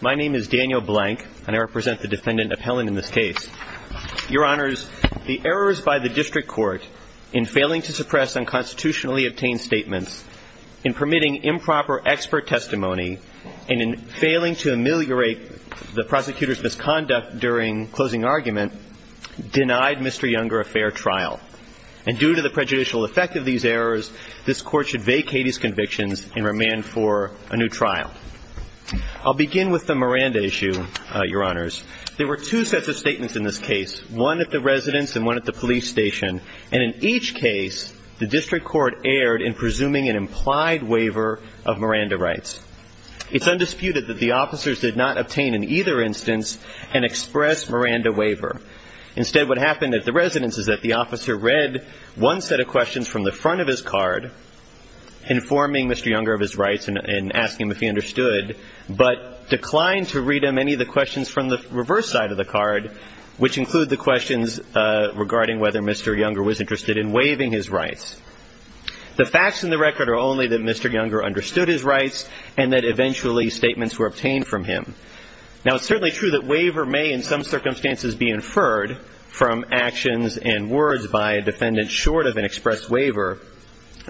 My name is Daniel Blank, and I represent the Defendant Appellant in this case. Your Honors, the errors by the District Court in failing to suppress unconstitutionally obtained statements, in permitting improper expert testimony, and in failing to ameliorate the prosecutor's misconduct during closing argument denied Mr. Younger a fair trial. And due to the prejudicial effect of these errors, this Court should vacate his convictions and remand for a new trial. I'll begin with the Miranda issue, Your Honors. There were two sets of statements in this case, one at the residence and one at the police station. And in each case, the District Court erred in presuming an implied waiver of Miranda rights. It's undisputed that the officers did not obtain in either instance an express Miranda waiver. Instead, what happened at the residence is that the officer read one set of questions from the front of his card, informing Mr. Younger of his rights and asking him if he understood, but declined to read him any of the questions from the reverse side of the card, which include the questions regarding whether Mr. Younger was interested in waiving his rights. The facts in the record are only that Mr. Younger understood his rights and that eventually statements were obtained from him. Now, it's certainly true that waiver may in some circumstances be inferred from actions and words by a defendant short of an express waiver,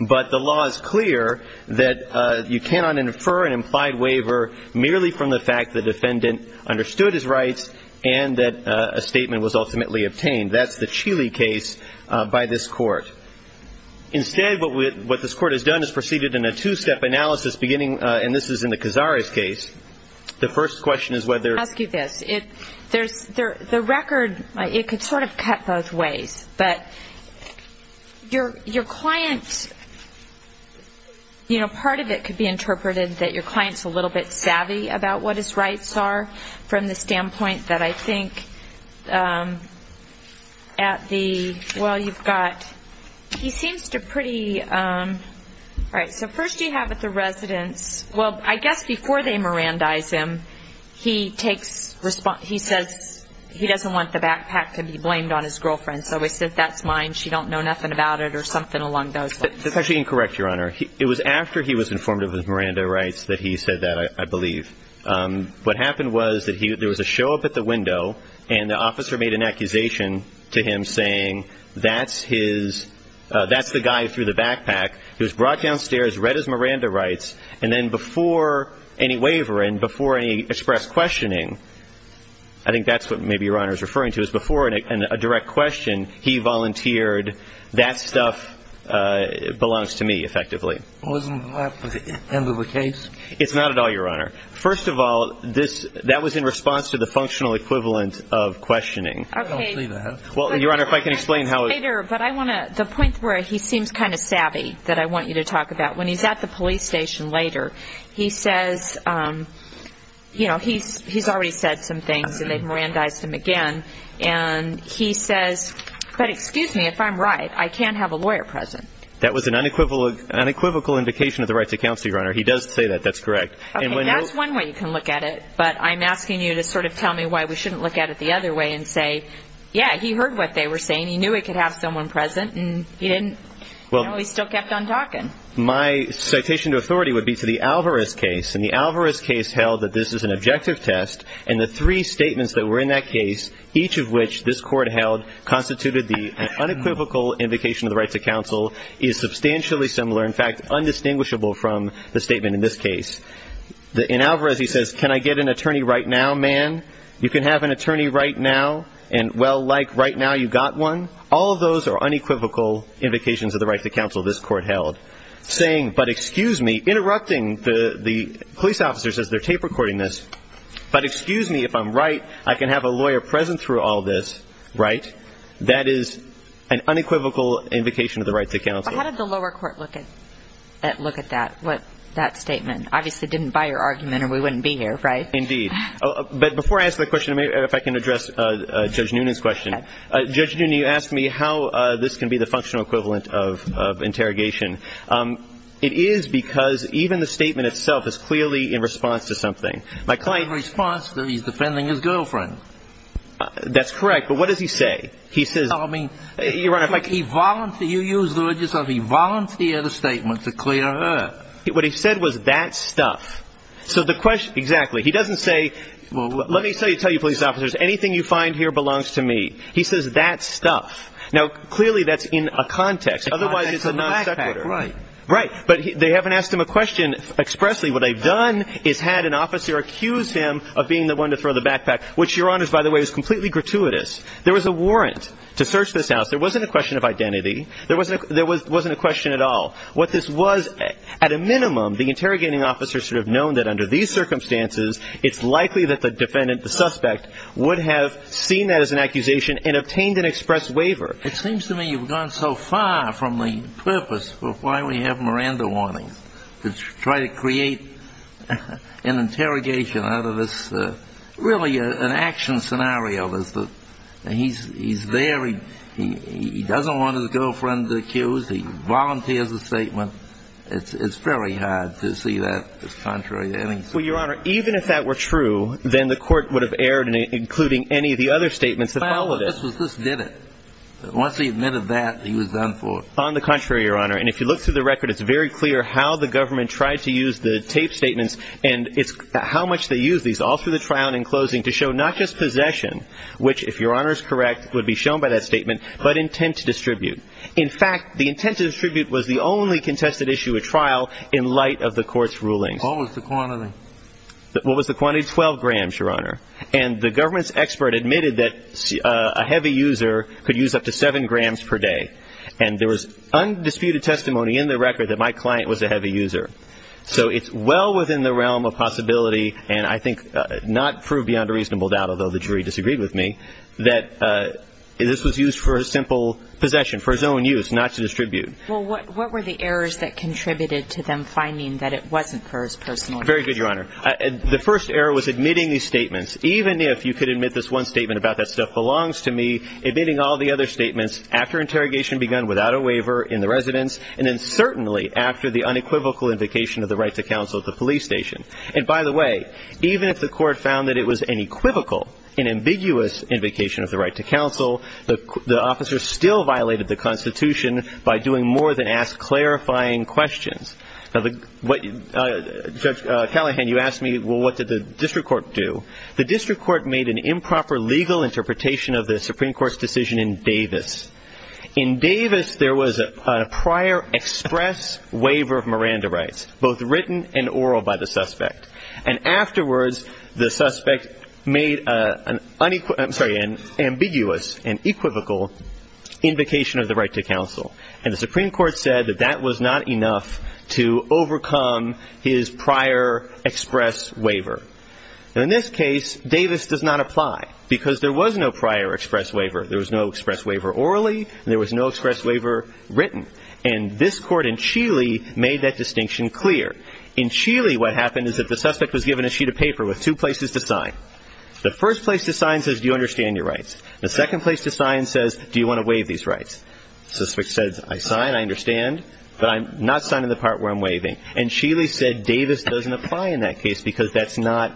but the law is clear that you cannot infer an implied waiver merely from the fact the defendant understood his rights and that a statement was ultimately obtained. That's the Cheely case by this Court. Instead, what this Court has done is proceeded in a two-step analysis beginning, and this is in the Cazares case. The first question is whether... Let me ask you this. The record, it could sort of cut both ways, but your client, you know, part of it could be interpreted that your client's a little bit savvy about what his rights are from the standpoint that I think at the... Well, you've got... He seems to pretty... All right, so first you have at the residence... Well, I guess before they Mirandize him, he takes response... He says he doesn't want the backpack to be blamed on his girlfriend, so he said, that's mine, she don't know nothing about it or something along those lines. That's actually incorrect, Your Honor. It was after he was informative with Miranda Rights that he said that, I believe. What happened was that there was a show up at the window and the officer made an accusation to him saying, that's his... That's the guy through the backpack, he was brought downstairs, read his Miranda Rights, and then before any waiver and before any express questioning, I think that's what maybe Your Honor is referring to, is before a direct question, he volunteered, that stuff belongs to me, effectively. Wasn't that the end of the case? It's not at all, Your Honor. First of all, that was in response to the functional equivalent of questioning. Okay. I don't see that. Well, Your Honor, if I can explain how... Later, but I want to... The point where he seems kind of savvy that I want you to talk about, when he's at the police station later, he says, you know, he's already said some things and they've Mirandized him again, and he says, but excuse me, if I'm right, I can't have a lawyer present. That was an unequivocal indication of the rights of counsel, Your Honor. He does say that. That's correct. Okay. That's one way you can look at it, but I'm asking you to sort of tell me why we shouldn't look at it the other way and say, yeah, he heard what they were saying, he knew he could have someone present, and he didn't, you know, he still kept on talking. My citation to authority would be to the Alvarez case, and the Alvarez case held that this is an objective test, and the three statements that were in that case, each of which this court held constituted the unequivocal indication of the rights of counsel, is substantially similar, in fact, undistinguishable from the statement in this case. In Alvarez, he says, can I get an attorney right now, man? You can have an attorney right now, and well, like, right now you got one? All of those are unequivocal indications of the rights of counsel this court held. Saying, but excuse me, interrupting the police officers as they're tape recording this, but excuse me if I'm right, I can have a lawyer present through all this, right? That is an unequivocal indication of the rights of counsel. But how did the lower court look at that statement? Obviously didn't buy your argument, or we wouldn't be here, right? Indeed. But before I answer that question, if I can address Judge Noonan's question. Judge Noonan, you asked me how this can be the functional equivalent of interrogation. It is because even the statement itself is clearly in response to something. My client... In response to he's defending his girlfriend. That's correct, but what does he say? He says... I mean... Your Honor, if I can... He voluntarily, you use the word yourself, he voluntarily had a statement to clear her. What he said was that stuff. So the question, exactly, he doesn't say, let me tell you, police officers, anything you find here belongs to me. He says that stuff. Now clearly that's in a context, otherwise it's a non sequitur. Right. Right, but they haven't asked him a question expressly. What they've done is had an officer accuse him of being the one to throw the backpack, which, Your Honor, by the way, is completely gratuitous. There was a warrant to search this house. There wasn't a question of identity. There wasn't a question at all. What this was, at a minimum, the interrogating officer should have known that under these circumstances. He should have seen that as an accusation and obtained an express waiver. It seems to me you've gone so far from the purpose of why we have Miranda warnings, to try to create an interrogation out of this, really an action scenario. He's there, he doesn't want his girlfriend accused, he volunteers a statement. It's very hard to see that as contrary to anything. Well, Your Honor, even if that were true, then the court would have erred, including any of the other statements that followed it. This did it. Once he admitted that, he was done for. On the contrary, Your Honor, and if you look through the record, it's very clear how the government tried to use the tape statements and how much they used these all through the trial and in closing to show not just possession, which, if Your Honor is correct, would be shown by that statement, but intent to distribute. In fact, the intent to distribute was the only contested issue at trial in light of the court's rulings. What was the quantity? What was the quantity? Twelve grams, Your Honor. And the government's expert admitted that a heavy user could use up to seven grams per day. And there was undisputed testimony in the record that my client was a heavy user. So it's well within the realm of possibility, and I think not proved beyond a reasonable doubt, although the jury disagreed with me, that this was used for simple possession, for his own use, not to distribute. Well, what were the errors that contributed to them finding that it wasn't for his personal use? Very good, Your Honor. The first error was admitting these statements. Even if you could admit this one statement about that stuff belongs to me, admitting all the other statements after interrogation begun without a waiver in the residence and then certainly after the unequivocal invocation of the right to counsel at the police station. And by the way, even if the court found that it was an equivocal, an ambiguous invocation of the right to counsel, the officer still violated the Constitution by doing more than ask clarifying questions. Now, Judge Callahan, you asked me, well, what did the district court do? The district court made an improper legal interpretation of the Supreme Court's decision in Davis. In Davis, there was a prior express waiver of Miranda rights, both written and oral by the suspect. And afterwards, the suspect made an ambiguous and equivocal invocation of the right to counsel. And the Supreme Court said that that was not enough to overcome his prior express waiver. Now, in this case, Davis does not apply because there was no prior express waiver. There was no express waiver orally, and there was no express waiver written. And this court in Chile made that distinction clear. In Chile, what happened is that the suspect was given a sheet of paper with two places to sign. The first place to sign says, do you understand your rights? The second place to sign says, do you want to waive these rights? The suspect says, I sign, I understand, but I'm not signing the part where I'm waiving. And Chile said Davis doesn't apply in that case because that's not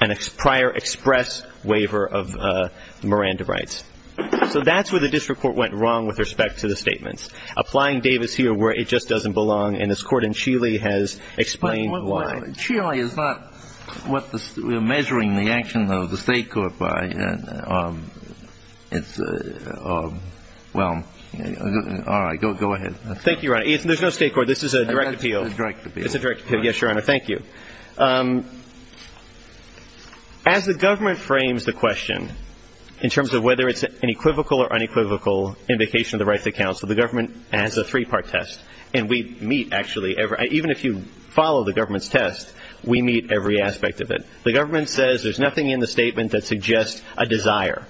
a prior express waiver of Miranda rights. So that's where the district court went wrong with respect to the statements, applying Davis here where it just doesn't belong. And this court in Chile has explained why. But Chile is not what we're measuring the action of the state court by. It's a – well, all right, go ahead. Thank you, Your Honor. There's no state court. This is a direct appeal. It's a direct appeal. It's a direct appeal. Yes, Your Honor. Thank you. As the government frames the question in terms of whether it's an equivocal or unequivocal indication of the rights of counsel, the government has a three-part test. And we meet, actually – even if you follow the government's test, we meet every aspect of it. The government says there's nothing in the statement that suggests a desire.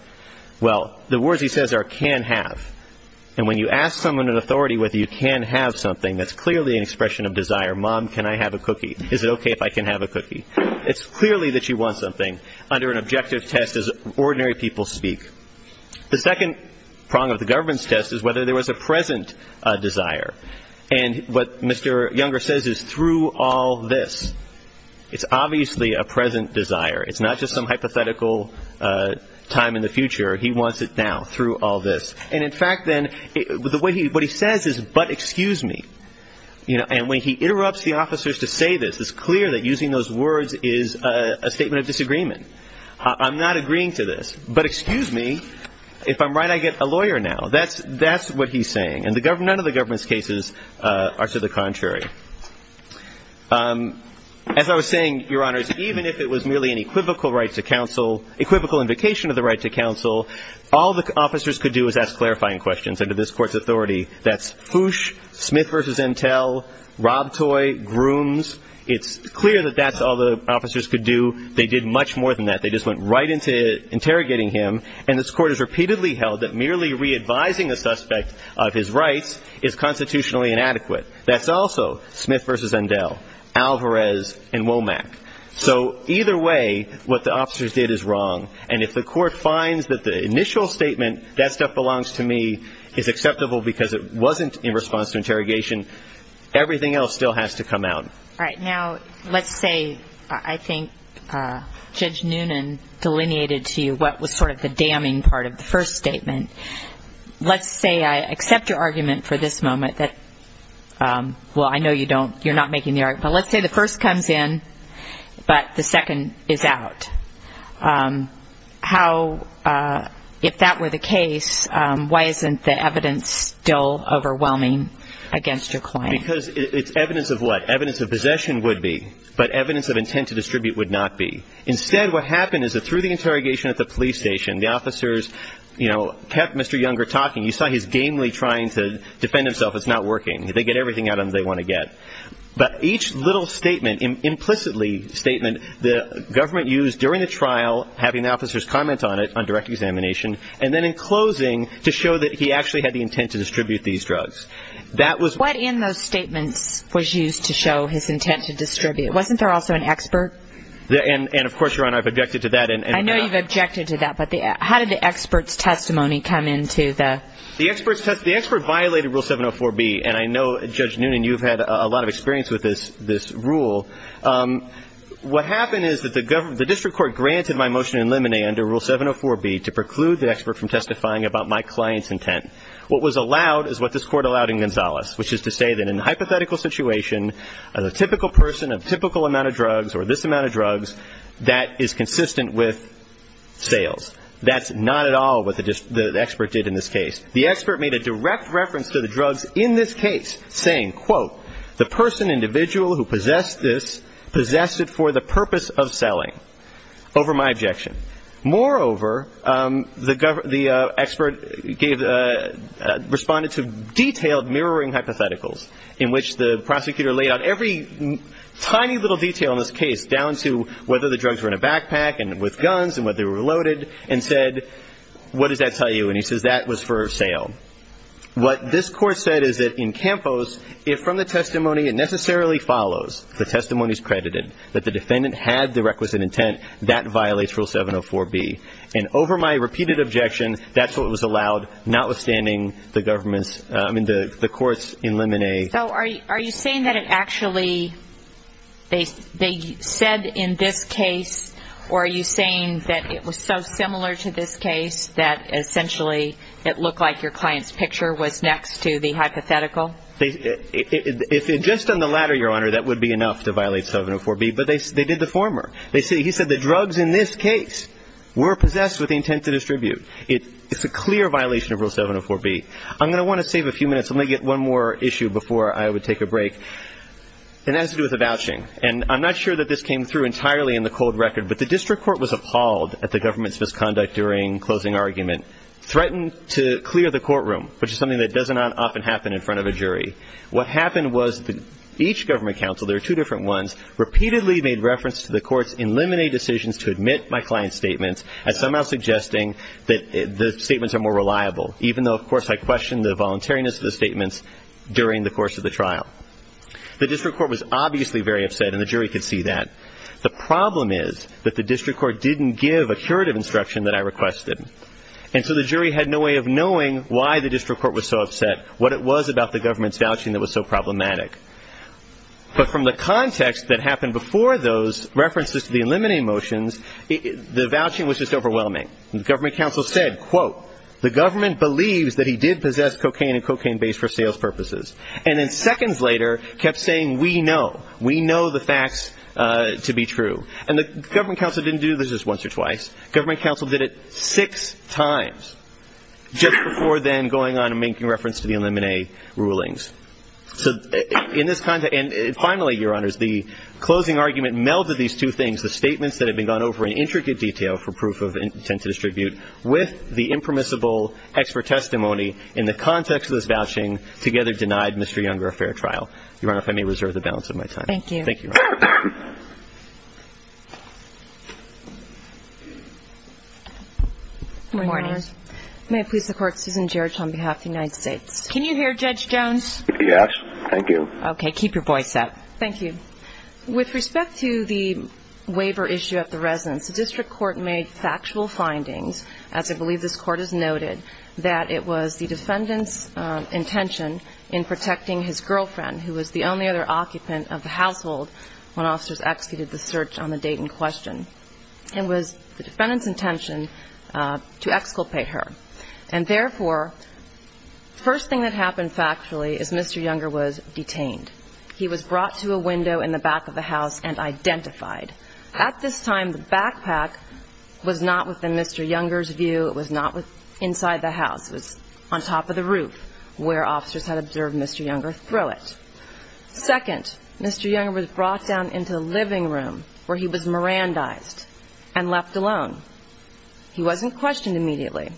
Well, the words he says are can have. And when you ask someone in authority whether you can have something, that's clearly an expression of desire. Mom, can I have a cookie? Is it okay if I can have a cookie? It's clearly that you want something under an objective test as ordinary people speak. The second prong of the government's test is whether there was a present desire. And what Mr. Younger says is through all this. It's obviously a present desire. It's not just some hypothetical time in the future. He wants it now through all this. And, in fact, then what he says is but excuse me. And when he interrupts the officers to say this, it's clear that using those words is a statement of disagreement. I'm not agreeing to this. But excuse me. If I'm right, I get a lawyer now. That's what he's saying. And none of the government's cases are to the contrary. As I was saying, Your Honors, even if it was merely an equivocal right to counsel, equivocal invocation of the right to counsel, all the officers could do is ask clarifying questions. Under this Court's authority, that's hoosh, Smith v. Intel, rob toy, grooms. It's clear that that's all the officers could do. They did much more than that. They just went right into interrogating him. And this Court has repeatedly held that merely re-advising the suspect of his rights is constitutionally inadequate. That's also Smith v. Intel, Alvarez, and Womack. So either way, what the officers did is wrong. And if the Court finds that the initial statement, that stuff belongs to me, is acceptable because it wasn't in response to interrogation, everything else still has to come out. All right. Now, let's say I think Judge Noonan delineated to you what was sort of the damning part of the first statement. Let's say I accept your argument for this moment that, well, I know you don't. You're not making the argument. But let's say the first comes in, but the second is out. How, if that were the case, why isn't the evidence still overwhelming against your client? Because it's evidence of what? Evidence of possession would be, but evidence of intent to distribute would not be. Instead, what happened is that through the interrogation at the police station, the officers, you know, kept Mr. Younger talking. You saw his gamely trying to defend himself. It's not working. They get everything out of him they want to get. But each little statement, implicitly statement, the government used during the trial, having the officers comment on it on direct examination, and then in closing to show that he actually had the intent to distribute these drugs. What in those statements was used to show his intent to distribute? Wasn't there also an expert? And, of course, Your Honor, I've objected to that. I know you've objected to that, but how did the expert's testimony come into the? The expert violated Rule 704B, and I know, Judge Noonan, you've had a lot of experience with this rule. What happened is that the district court granted my motion in limine under Rule 704B to preclude the expert from testifying about my client's intent. What was allowed is what this court allowed in Gonzales, which is to say that in a hypothetical situation, the typical person of typical amount of drugs or this amount of drugs, that is consistent with sales. That's not at all what the expert did in this case. The expert made a direct reference to the drugs in this case, saying, quote, the person, individual who possessed this, possessed it for the purpose of selling, over my objection. Moreover, the expert responded to detailed mirroring hypotheticals in which the prosecutor laid out every tiny little detail in this case, down to whether the drugs were in a backpack and with guns and whether they were loaded, and said, what does that tell you? And he says that was for sale. What this court said is that in Campos, if from the testimony it necessarily follows, the testimony is credited, that the defendant had the requisite intent, that violates Rule 704B. And over my repeated objection, that's what was allowed, notwithstanding the government's, I mean, the court's in limine. So are you saying that it actually, they said in this case, or are you saying that it was so similar to this case that essentially it looked like your client's picture was next to the hypothetical? Just on the latter, Your Honor, that would be enough to violate 704B. But they did the former. He said the drugs in this case were possessed with the intent to distribute. It's a clear violation of Rule 704B. I'm going to want to save a few minutes. Let me get one more issue before I would take a break. And that has to do with the vouching. And I'm not sure that this came through entirely in the cold record, but the district court was appalled at the government's misconduct during closing argument, threatened to clear the courtroom, which is something that doesn't often happen in front of a jury. What happened was each government counsel, there were two different ones, repeatedly made reference to the court's in limine decisions to admit my client's statements as somehow suggesting that the statements are more reliable, even though, of course, I questioned the voluntariness of the statements during the course of the trial. The district court was obviously very upset, and the jury could see that. The problem is that the district court didn't give a curative instruction that I requested. And so the jury had no way of knowing why the district court was so upset, what it was about the government's vouching that was so problematic. But from the context that happened before those references to the in limine motions, the vouching was just overwhelming. The government counsel said, quote, the government believes that he did possess cocaine and cocaine base for sales purposes. And then seconds later kept saying, we know. We know the facts to be true. And the government counsel didn't do this just once or twice. Government counsel did it six times just before then going on and making reference to the in limine rulings. So in this context, and finally, Your Honors, the closing argument melded these two things, the statements that had been gone over in intricate detail for proof of intent to distribute, with the impermissible expert testimony in the context of this vouching, together denied Mr. Younger a fair trial. Your Honor, if I may reserve the balance of my time. Thank you. Thank you, Your Honor. Good morning. Good morning. May it please the Court, Susan Geraght on behalf of the United States. Can you hear Judge Jones? Yes. Thank you. Okay. Keep your voice up. Thank you. With respect to the waiver issue at the residence, the district court made factual findings, as I believe this Court has noted, that it was the defendant's intention in protecting his girlfriend, who was the only other occupant of the household when officers executed the search on the date in question. It was the defendant's intention to exculpate her. And therefore, the first thing that happened factually is Mr. Younger was detained. He was brought to a window in the back of the house and identified. At this time, the backpack was not within Mr. Younger's view. It was not inside the house. It was on top of the roof where officers had observed Mr. Younger throw it. Second, Mr. Younger was brought down into the living room where he was mirandized and left alone. He wasn't questioned immediately.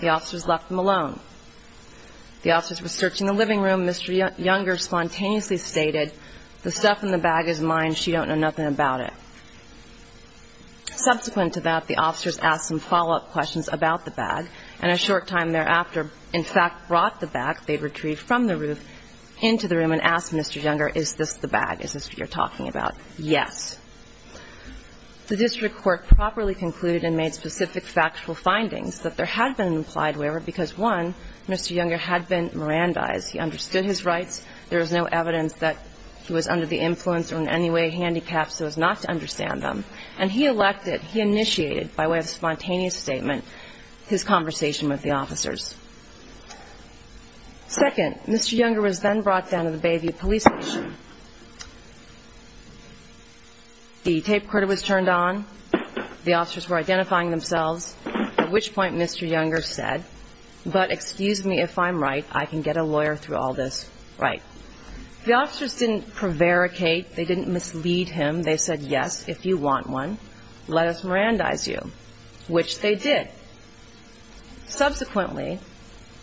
The officers left him alone. The officers were searching the living room. Mr. Younger spontaneously stated, the stuff in the bag is mine. She don't know nothing about it. Subsequent to that, the officers asked some follow-up questions about the bag, and a short time thereafter, in fact, brought the bag they'd retrieved from the roof into the room and asked Mr. Younger, is this the bag? Is this what you're talking about? Yes. The district court properly concluded and made specific factual findings that there had been an implied waiver because, one, Mr. Younger had been mirandized. He understood his rights. There was no evidence that he was under the influence or in any way handicapped, so it was not to understand them. And he elected, he initiated by way of spontaneous statement his conversation with the officers. Second, Mr. Younger was then brought down to the Bayview police station. The tape recorder was turned on. The officers were identifying themselves, at which point Mr. Younger said, but excuse me if I'm right, I can get a lawyer through all this right. The officers didn't prevaricate. They didn't mislead him. They said, yes, if you want one, let us mirandize you, which they did. Subsequently,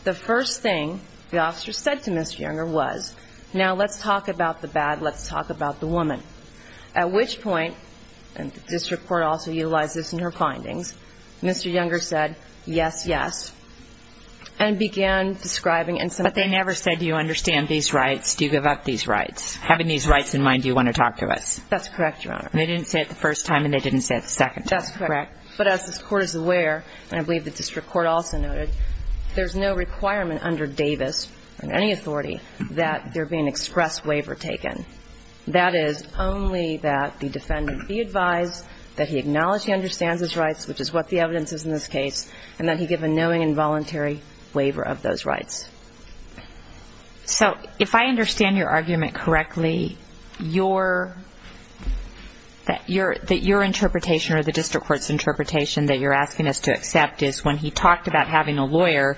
the first thing the officers said to Mr. Younger was, now let's talk about the bad, let's talk about the woman, at which point, and the district court also utilized this in her findings, Mr. Younger said, yes, yes, and began describing in some way. But they never said, do you understand these rights? Do you give up these rights? Having these rights in mind, do you want to talk to us? That's correct, Your Honor. They didn't say it the first time, and they didn't say it the second time. That's correct. But as the court is aware, and I believe the district court also noted, there's no requirement under Davis, under any authority, that there be an express waiver taken. That is only that the defendant be advised that he acknowledge he understands his rights, which is what the evidence is in this case, and that he give a knowing and voluntary waiver of those rights. So if I understand your argument correctly, your interpretation or the district court's interpretation that you're asking us to accept is when he talked about having a lawyer,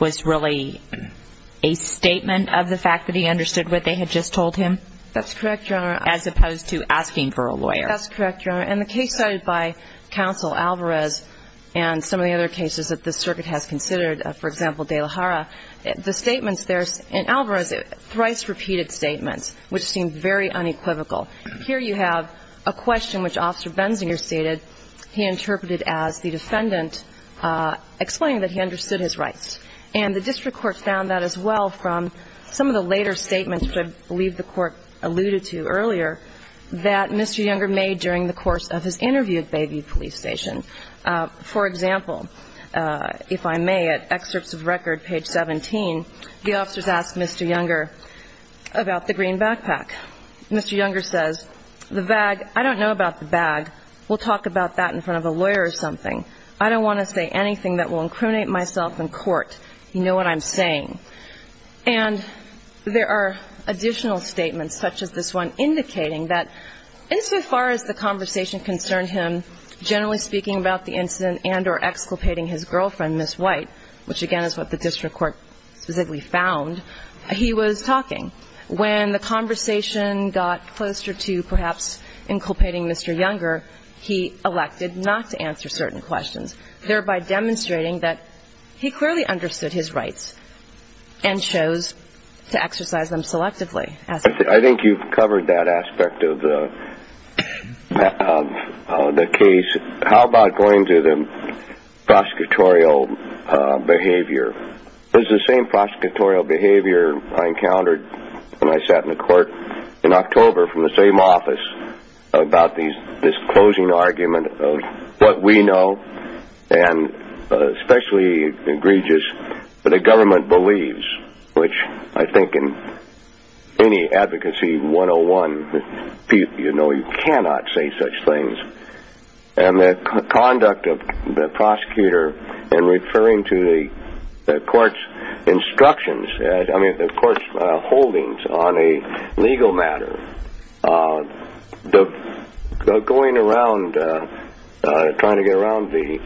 was really a statement of the fact that he understood what they had just told him? That's correct, Your Honor. As opposed to asking for a lawyer. That's correct, Your Honor. And the case cited by Counsel Alvarez and some of the other cases that the circuit has considered, for example, De La Hara, the statements there, and Alvarez thrice repeated statements, which seemed very unequivocal. Here you have a question which Officer Benzinger stated he interpreted as the defendant explaining that he understood his rights. And the district court found that as well from some of the later statements, which I believe the court alluded to earlier, that Mr. Younger made during the course of his interview at Bayview Police Station. For example, if I may, at excerpts of record, page 17, the officers ask Mr. Younger about the green backpack. Mr. Younger says, the bag, I don't know about the bag. We'll talk about that in front of a lawyer or something. I don't want to say anything that will incriminate myself in court. You know what I'm saying. And there are additional statements, such as this one, indicating that insofar as the conversation concerned him generally speaking about the incident and or exculpating his girlfriend, Ms. White, which again is what the district court specifically found, he was talking. When the conversation got closer to perhaps inculpating Mr. Younger, he elected not to answer certain questions, thereby demonstrating that he clearly understood his rights and chose to exercise them selectively. I think you've covered that aspect of the case. How about going to the prosecutorial behavior? It was the same prosecutorial behavior I encountered when I sat in the court in October from the same office about this closing argument of what we know, and especially egregious what the government believes, which I think in any advocacy 101, you know you cannot say such things. And the conduct of the prosecutor in referring to the court's instructions, I mean the court's holdings on a legal matter, going around trying to get around the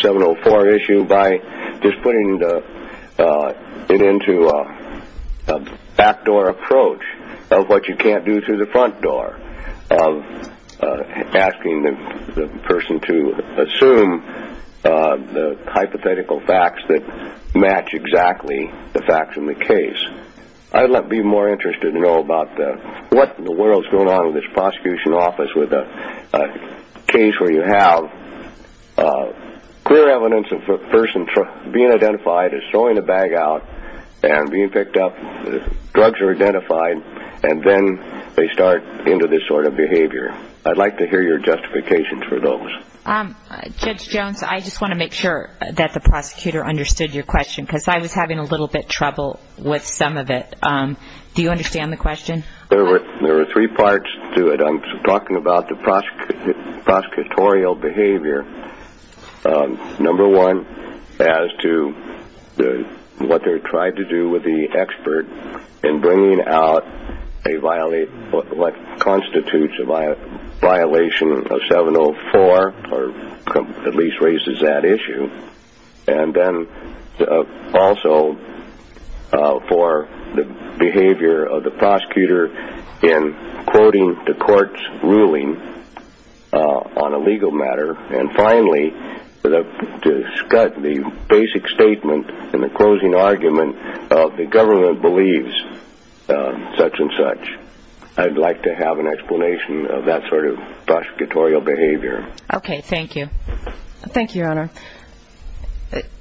704 issue by just putting it into a backdoor approach of what you can't do through the front door, of asking the person to assume the hypothetical facts that match exactly the facts in the case. I'd be more interested to know about what in the world is going on in this prosecution office with a case where you have clear evidence of a person being identified as throwing a bag out and being picked up, drugs are identified, and then they start into this sort of behavior. I'd like to hear your justifications for those. Judge Jones, I just want to make sure that the prosecutor understood your question because I was having a little bit of trouble with some of it. Do you understand the question? There were three parts to it. I'm talking about the prosecutorial behavior. Number one, as to what they're trying to do with the expert in bringing out what constitutes a violation of 704, or at least raises that issue. And then also for the behavior of the prosecutor in quoting the court's ruling on a legal matter and finally to discuss the basic statement in the closing argument of the government believes such and such. I'd like to have an explanation of that sort of prosecutorial behavior. Okay, thank you. Thank you, Your Honor.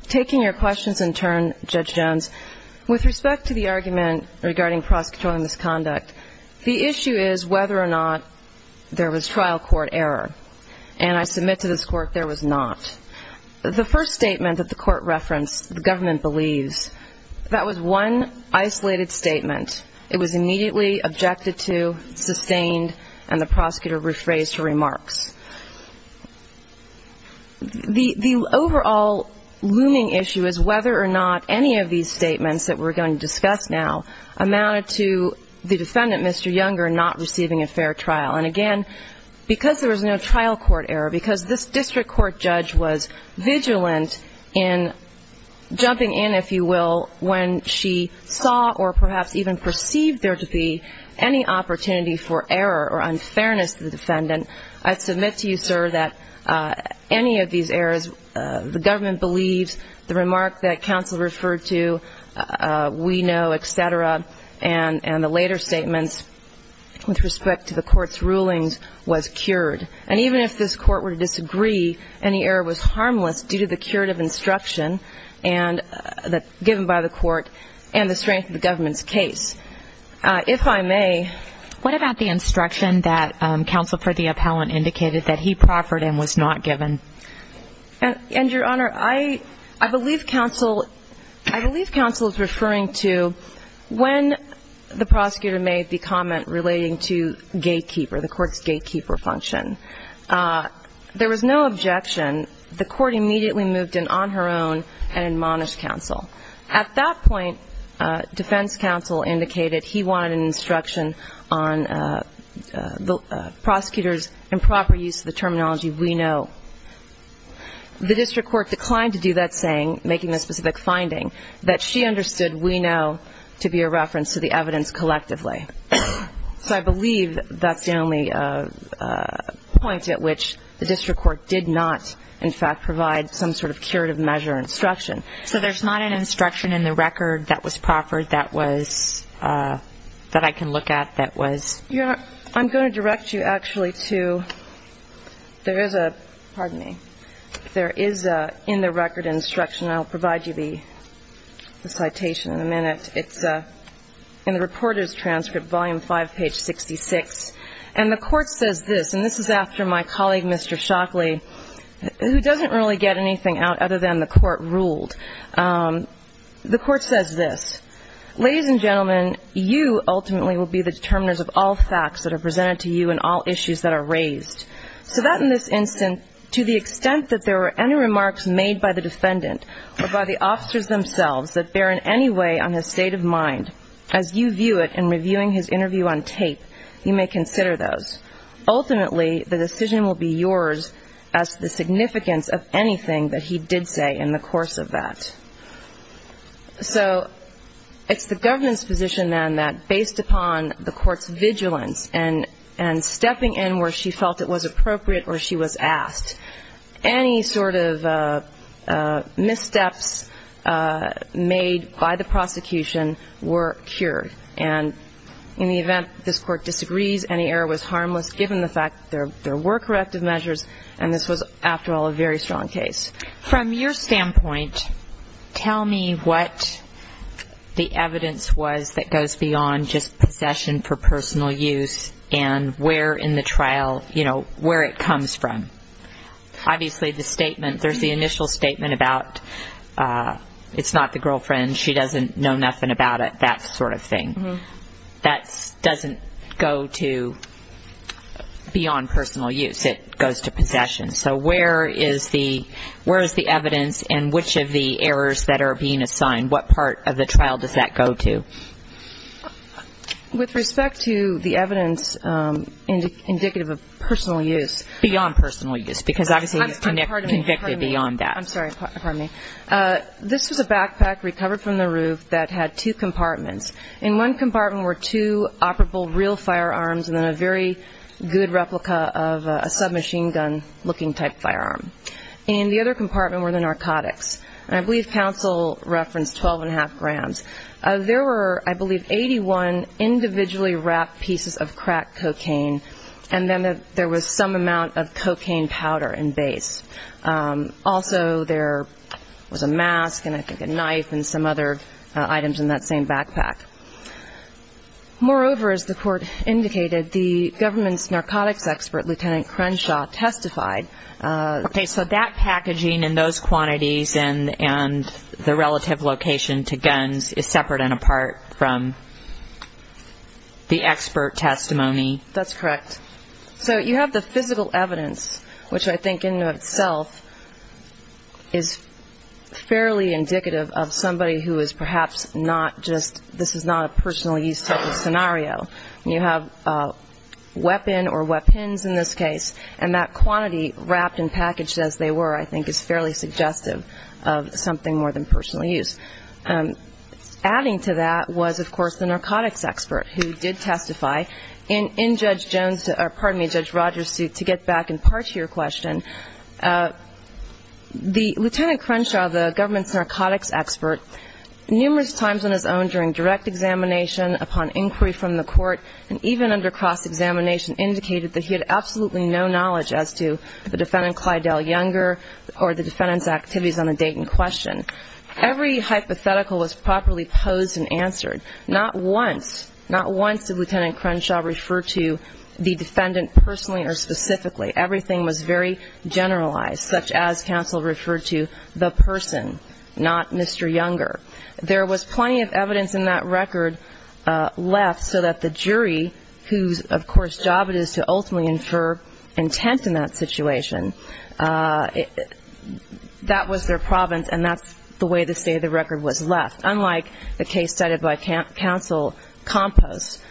Taking your questions in turn, Judge Jones, with respect to the argument regarding prosecutorial misconduct, the issue is whether or not there was trial court error. And I submit to this court there was not. The first statement that the court referenced, the government believes, that was one isolated statement. It was immediately objected to, sustained, and the prosecutor rephrased her remarks. The overall looming issue is whether or not any of these statements that we're going to discuss now amounted to the defendant, Mr. Younger, not receiving a fair trial. And again, because there was no trial court error, because this district court judge was vigilant in jumping in, if you will, when she saw or perhaps even perceived there to be any opportunity for error or unfairness to the defendant, I submit to you, sir, that any of these errors, the government believes, the remark that counsel referred to, we know, et cetera, and the later statements with respect to the court's rulings was cured. And even if this court were to disagree, any error was harmless due to the curative instruction given by the court and the strength of the government's case. If I may. What about the instruction that counsel for the appellant indicated that he proffered and was not given? And, Your Honor, I believe counsel is referring to when the prosecutor made the comment relating to gatekeeper, the court's gatekeeper function. There was no objection. The court immediately moved in on her own and admonished counsel. At that point, defense counsel indicated he wanted an instruction on the prosecutor's improper use of the terminology we know. The district court declined to do that saying, making the specific finding, that she understood we know to be a reference to the evidence collectively. So I believe that's the only point at which the district court did not, in fact, provide some sort of curative measure instruction. So there's not an instruction in the record that was proffered that I can look at that was? Your Honor, I'm going to direct you actually to, there is a, pardon me, there is a in the record instruction. I'll provide you the citation in a minute. It's in the reporter's transcript, volume 5, page 66. And the court says this, and this is after my colleague, Mr. Shockley, who doesn't really get anything out other than the court ruled. The court says this, ladies and gentlemen, you ultimately will be the determiners of all facts that are presented to you and all issues that are raised. So that in this instance, to the extent that there were any remarks made by the defendant or by the officers themselves that bear in any way on his state of mind, as you view it in reviewing his interview on tape, you may consider those. Ultimately, the decision will be yours as to the significance of anything that he did say in the course of that. So it's the government's position then that based upon the court's vigilance and stepping in where she felt it was appropriate or she was asked, any sort of missteps made by the prosecution were cured. And in the event this court disagrees, any error was harmless, given the fact that there were corrective measures, and this was, after all, a very strong case. From your standpoint, tell me what the evidence was that goes beyond just possession for personal use and where in the trial, you know, where it comes from. Obviously, the statement, there's the initial statement about it's not the girlfriend, she doesn't know nothing about it, that sort of thing. That doesn't go to beyond personal use. It goes to possession. So where is the evidence and which of the errors that are being assigned, what part of the trial does that go to? With respect to the evidence indicative of personal use. Beyond personal use, because obviously he's convicted beyond that. I'm sorry, pardon me. This was a backpack recovered from the roof that had two compartments. In one compartment were two operable real firearms and then a very good replica of a submachine gun looking type firearm. In the other compartment were the narcotics. And I believe counsel referenced 12 and a half grams. There were, I believe, 81 individually wrapped pieces of crack cocaine and then there was some amount of cocaine powder in base. Also there was a mask and I think a knife and some other items in that same backpack. Moreover, as the court indicated, the government's narcotics expert, Lieutenant Crenshaw, testified. Okay. So that packaging and those quantities and the relative location to guns is separate and apart from the expert testimony? That's correct. So you have the physical evidence, which I think in and of itself is fairly indicative of somebody who is perhaps not just this is not a personal use type of scenario. You have a weapon or weapons in this case and that quantity wrapped and packaged as they were, I think, is fairly suggestive of something more than personal use. Adding to that was, of course, the narcotics expert who did testify. In Judge Rogers' suit, to get back in part to your question, Lieutenant Crenshaw, the government's narcotics expert, numerous times on his own during direct examination, upon inquiry from the court, and even under cross-examination, indicated that he had absolutely no knowledge as to the defendant, Clyde L. Younger, or the defendant's activities on the date in question. Every hypothetical was properly posed and answered. Not once did Lieutenant Crenshaw refer to the defendant personally or specifically. Everything was very generalized, such as counsel referred to the person, not Mr. Younger. There was plenty of evidence in that record left so that the jury, whose, of course, job it is to ultimately infer intent in that situation, that was their province and that's the way the state of the record was left. Unlike the case cited by counsel Compos,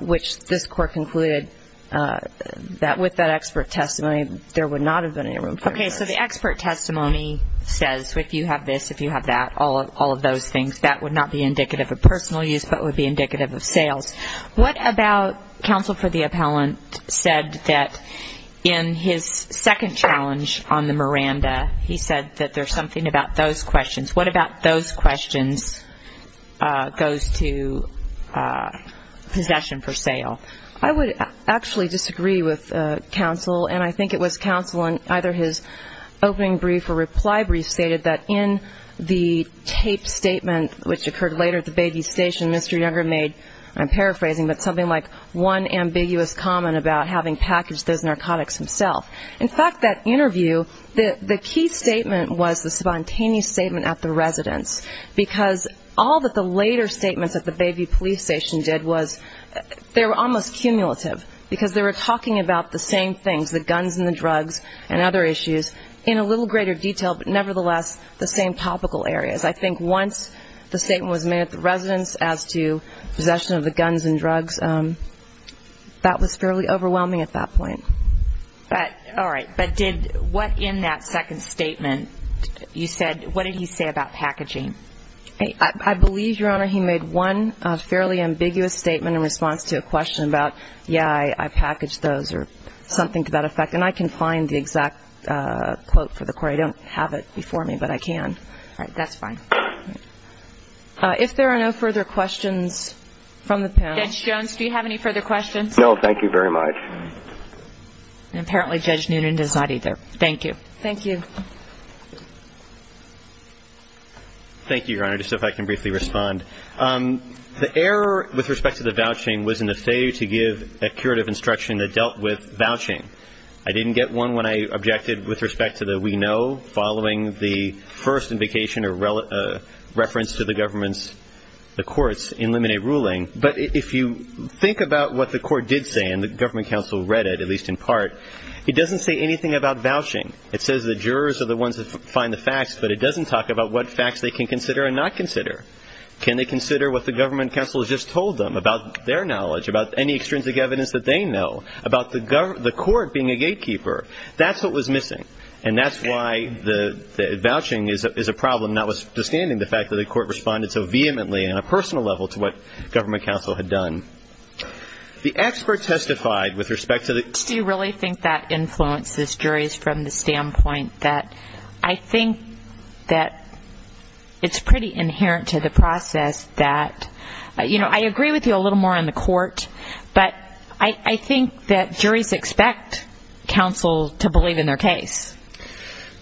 which this court concluded that with that expert testimony, there would not have been any room for inference. Okay, so the expert testimony says if you have this, if you have that, all of those things, that would not be indicative of personal use but would be indicative of sales. What about counsel for the appellant said that in his second challenge on the Miranda, he said that there's something about those questions. What about those questions goes to possession for sale? I would actually disagree with counsel, and I think it was counsel in either his opening brief or reply brief stated that in the taped statement, which occurred later at the Bayview Station, Mr. Younger made, I'm paraphrasing, but something like one ambiguous comment about having packaged those narcotics himself. In fact, that interview, the key statement was the spontaneous statement at the residence because all that the later statements at the Bayview Police Station did was they were almost cumulative because they were talking about the same things, the guns and the drugs and other issues, in a little greater detail but nevertheless the same topical areas. I think once the statement was made at the residence as to possession of the guns and drugs, that was fairly overwhelming at that point. All right. But did what in that second statement, you said, what did he say about packaging? I believe, Your Honor, he made one fairly ambiguous statement in response to a question about, yeah, I packaged those or something to that effect, and I can find the exact quote for the court. I don't have it before me, but I can. All right. That's fine. If there are no further questions from the panel. Judge Jones, do you have any further questions? No, thank you very much. And apparently Judge Noonan does not either. Thank you. Thank you. Thank you, Your Honor. Just if I can briefly respond. The error with respect to the vouching was in the failure to give a curative instruction that dealt with vouching. I didn't get one when I objected with respect to the we know following the first invocation or reference to the government's courts in limine ruling. But if you think about what the court did say and the government counsel read it, at least in part, it doesn't say anything about vouching. It says the jurors are the ones that find the facts, but it doesn't talk about what facts they can consider and not consider. Can they consider what the government counsel has just told them about their knowledge, about any extrinsic evidence that they know, about the court being a gatekeeper? That's what was missing, and that's why the vouching is a problem, notwithstanding the fact that the court responded so vehemently on a personal level to what the government counsel had done. The expert testified with respect to the court. Do you really think that influences juries from the standpoint that I think that it's pretty inherent to the process that I agree with you a little more on the court, but I think that juries expect counsel to believe in their case.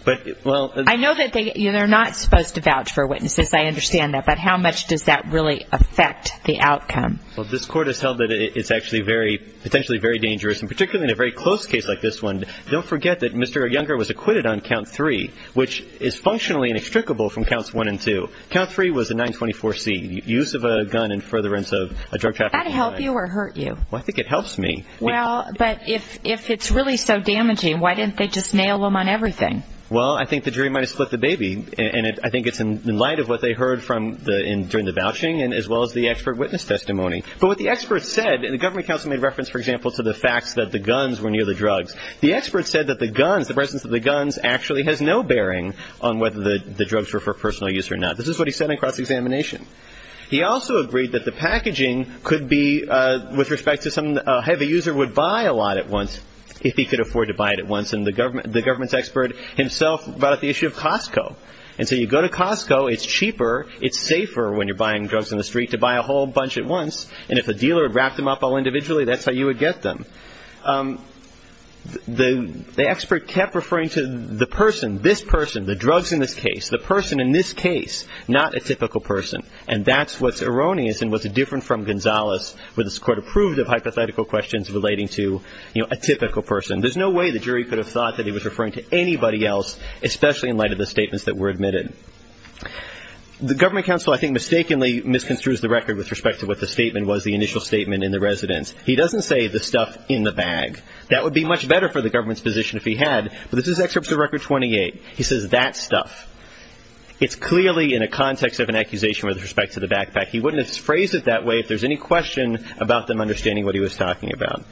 I know that they're not supposed to vouch for witnesses. I understand that. But how much does that really affect the outcome? Well, this court has held that it's actually potentially very dangerous, and particularly in a very close case like this one. Don't forget that Mr. Younger was acquitted on Count 3, which is functionally inextricable from Counts 1 and 2. Count 3 was a 924C, use of a gun in furtherance of a drug trafficking crime. Does that help you or hurt you? I think it helps me. Well, but if it's really so damaging, why didn't they just nail him on everything? Well, I think the jury might have split the baby, and I think it's in light of what they heard during the vouching as well as the expert witness testimony. But what the expert said, and the government counsel made reference, for example, to the facts that the guns were near the drugs. The expert said that the guns, the presence of the guns, actually has no bearing on whether the drugs were for personal use or not. This is what he said in cross-examination. He also agreed that the packaging could be, with respect to some heavy user, would buy a lot at once if he could afford to buy it at once. And the government's expert himself brought up the issue of Costco. And so you go to Costco, it's cheaper, it's safer when you're buying drugs on the street, to buy a whole bunch at once. And if a dealer had wrapped them up all individually, that's how you would get them. The expert kept referring to the person, this person, the drugs in this case, the person in this case, not a typical person. And that's what's erroneous and what's different from Gonzales, where this court approved of hypothetical questions relating to a typical person. There's no way the jury could have thought that he was referring to anybody else, especially in light of the statements that were admitted. The government counsel, I think, mistakenly misconstrues the record with respect to what the statement was, the initial statement in the residence. He doesn't say the stuff in the bag. That would be much better for the government's position if he had. But this is Excerpt to Record 28. He says that stuff. It's clearly in a context of an accusation with respect to the backpack. He wouldn't have phrased it that way if there's any question about them understanding what he was talking about.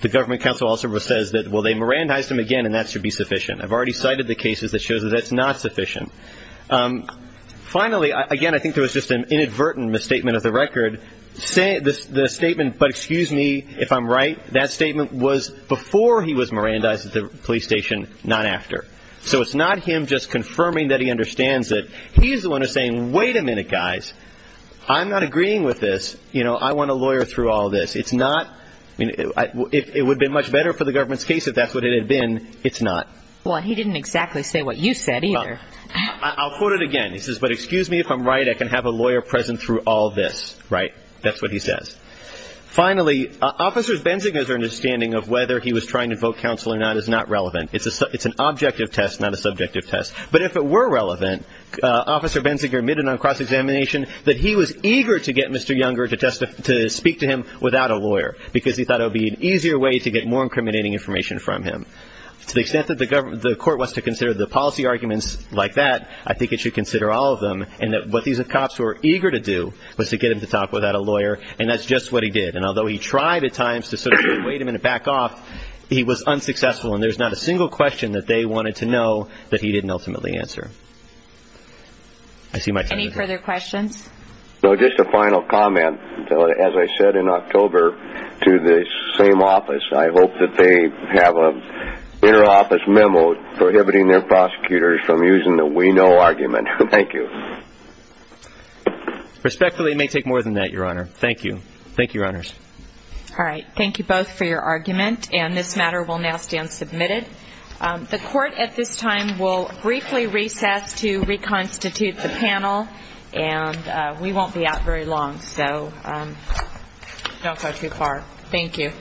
The government counsel also says that, well, they Mirandized him again, and that should be sufficient. I've already cited the cases that show that that's not sufficient. Finally, again, I think there was just an inadvertent misstatement of the record. The statement, but excuse me if I'm right, that statement was before he was Mirandized at the police station, not after. So it's not him just confirming that he understands it. He's the one who's saying, wait a minute, guys. I'm not agreeing with this. I want a lawyer through all this. It would have been much better for the government's case if that's what it had been. It's not. Well, he didn't exactly say what you said either. I'll quote it again. He says, but excuse me if I'm right, I can have a lawyer present through all this. Right? That's what he says. Finally, Officer Benziger's understanding of whether he was trying to invoke counsel or not is not relevant. It's an objective test, not a subjective test. But if it were relevant, Officer Benziger admitted on cross-examination that he was eager to get Mr. Younger to speak to him without a lawyer because he thought it would be an easier way to get more incriminating information from him. To the extent that the court wants to consider the policy arguments like that, I think it should consider all of them and that what these cops were eager to do was to get him to talk without a lawyer, and that's just what he did. And although he tried at times to sort of say, wait a minute, back off, he was unsuccessful, and there's not a single question that they wanted to know that he didn't ultimately answer. Any further questions? No, just a final comment. As I said in October to the same office, I hope that they have an inter-office memo prohibiting their prosecutors from using the we know argument. Thank you. Respectfully, it may take more than that, Your Honor. Thank you. Thank you, Your Honors. All right. Thank you both for your argument, and this matter will now stand submitted. The court at this time will briefly recess to reconstitute the panel, and we won't be out very long, so don't go too far. Thank you.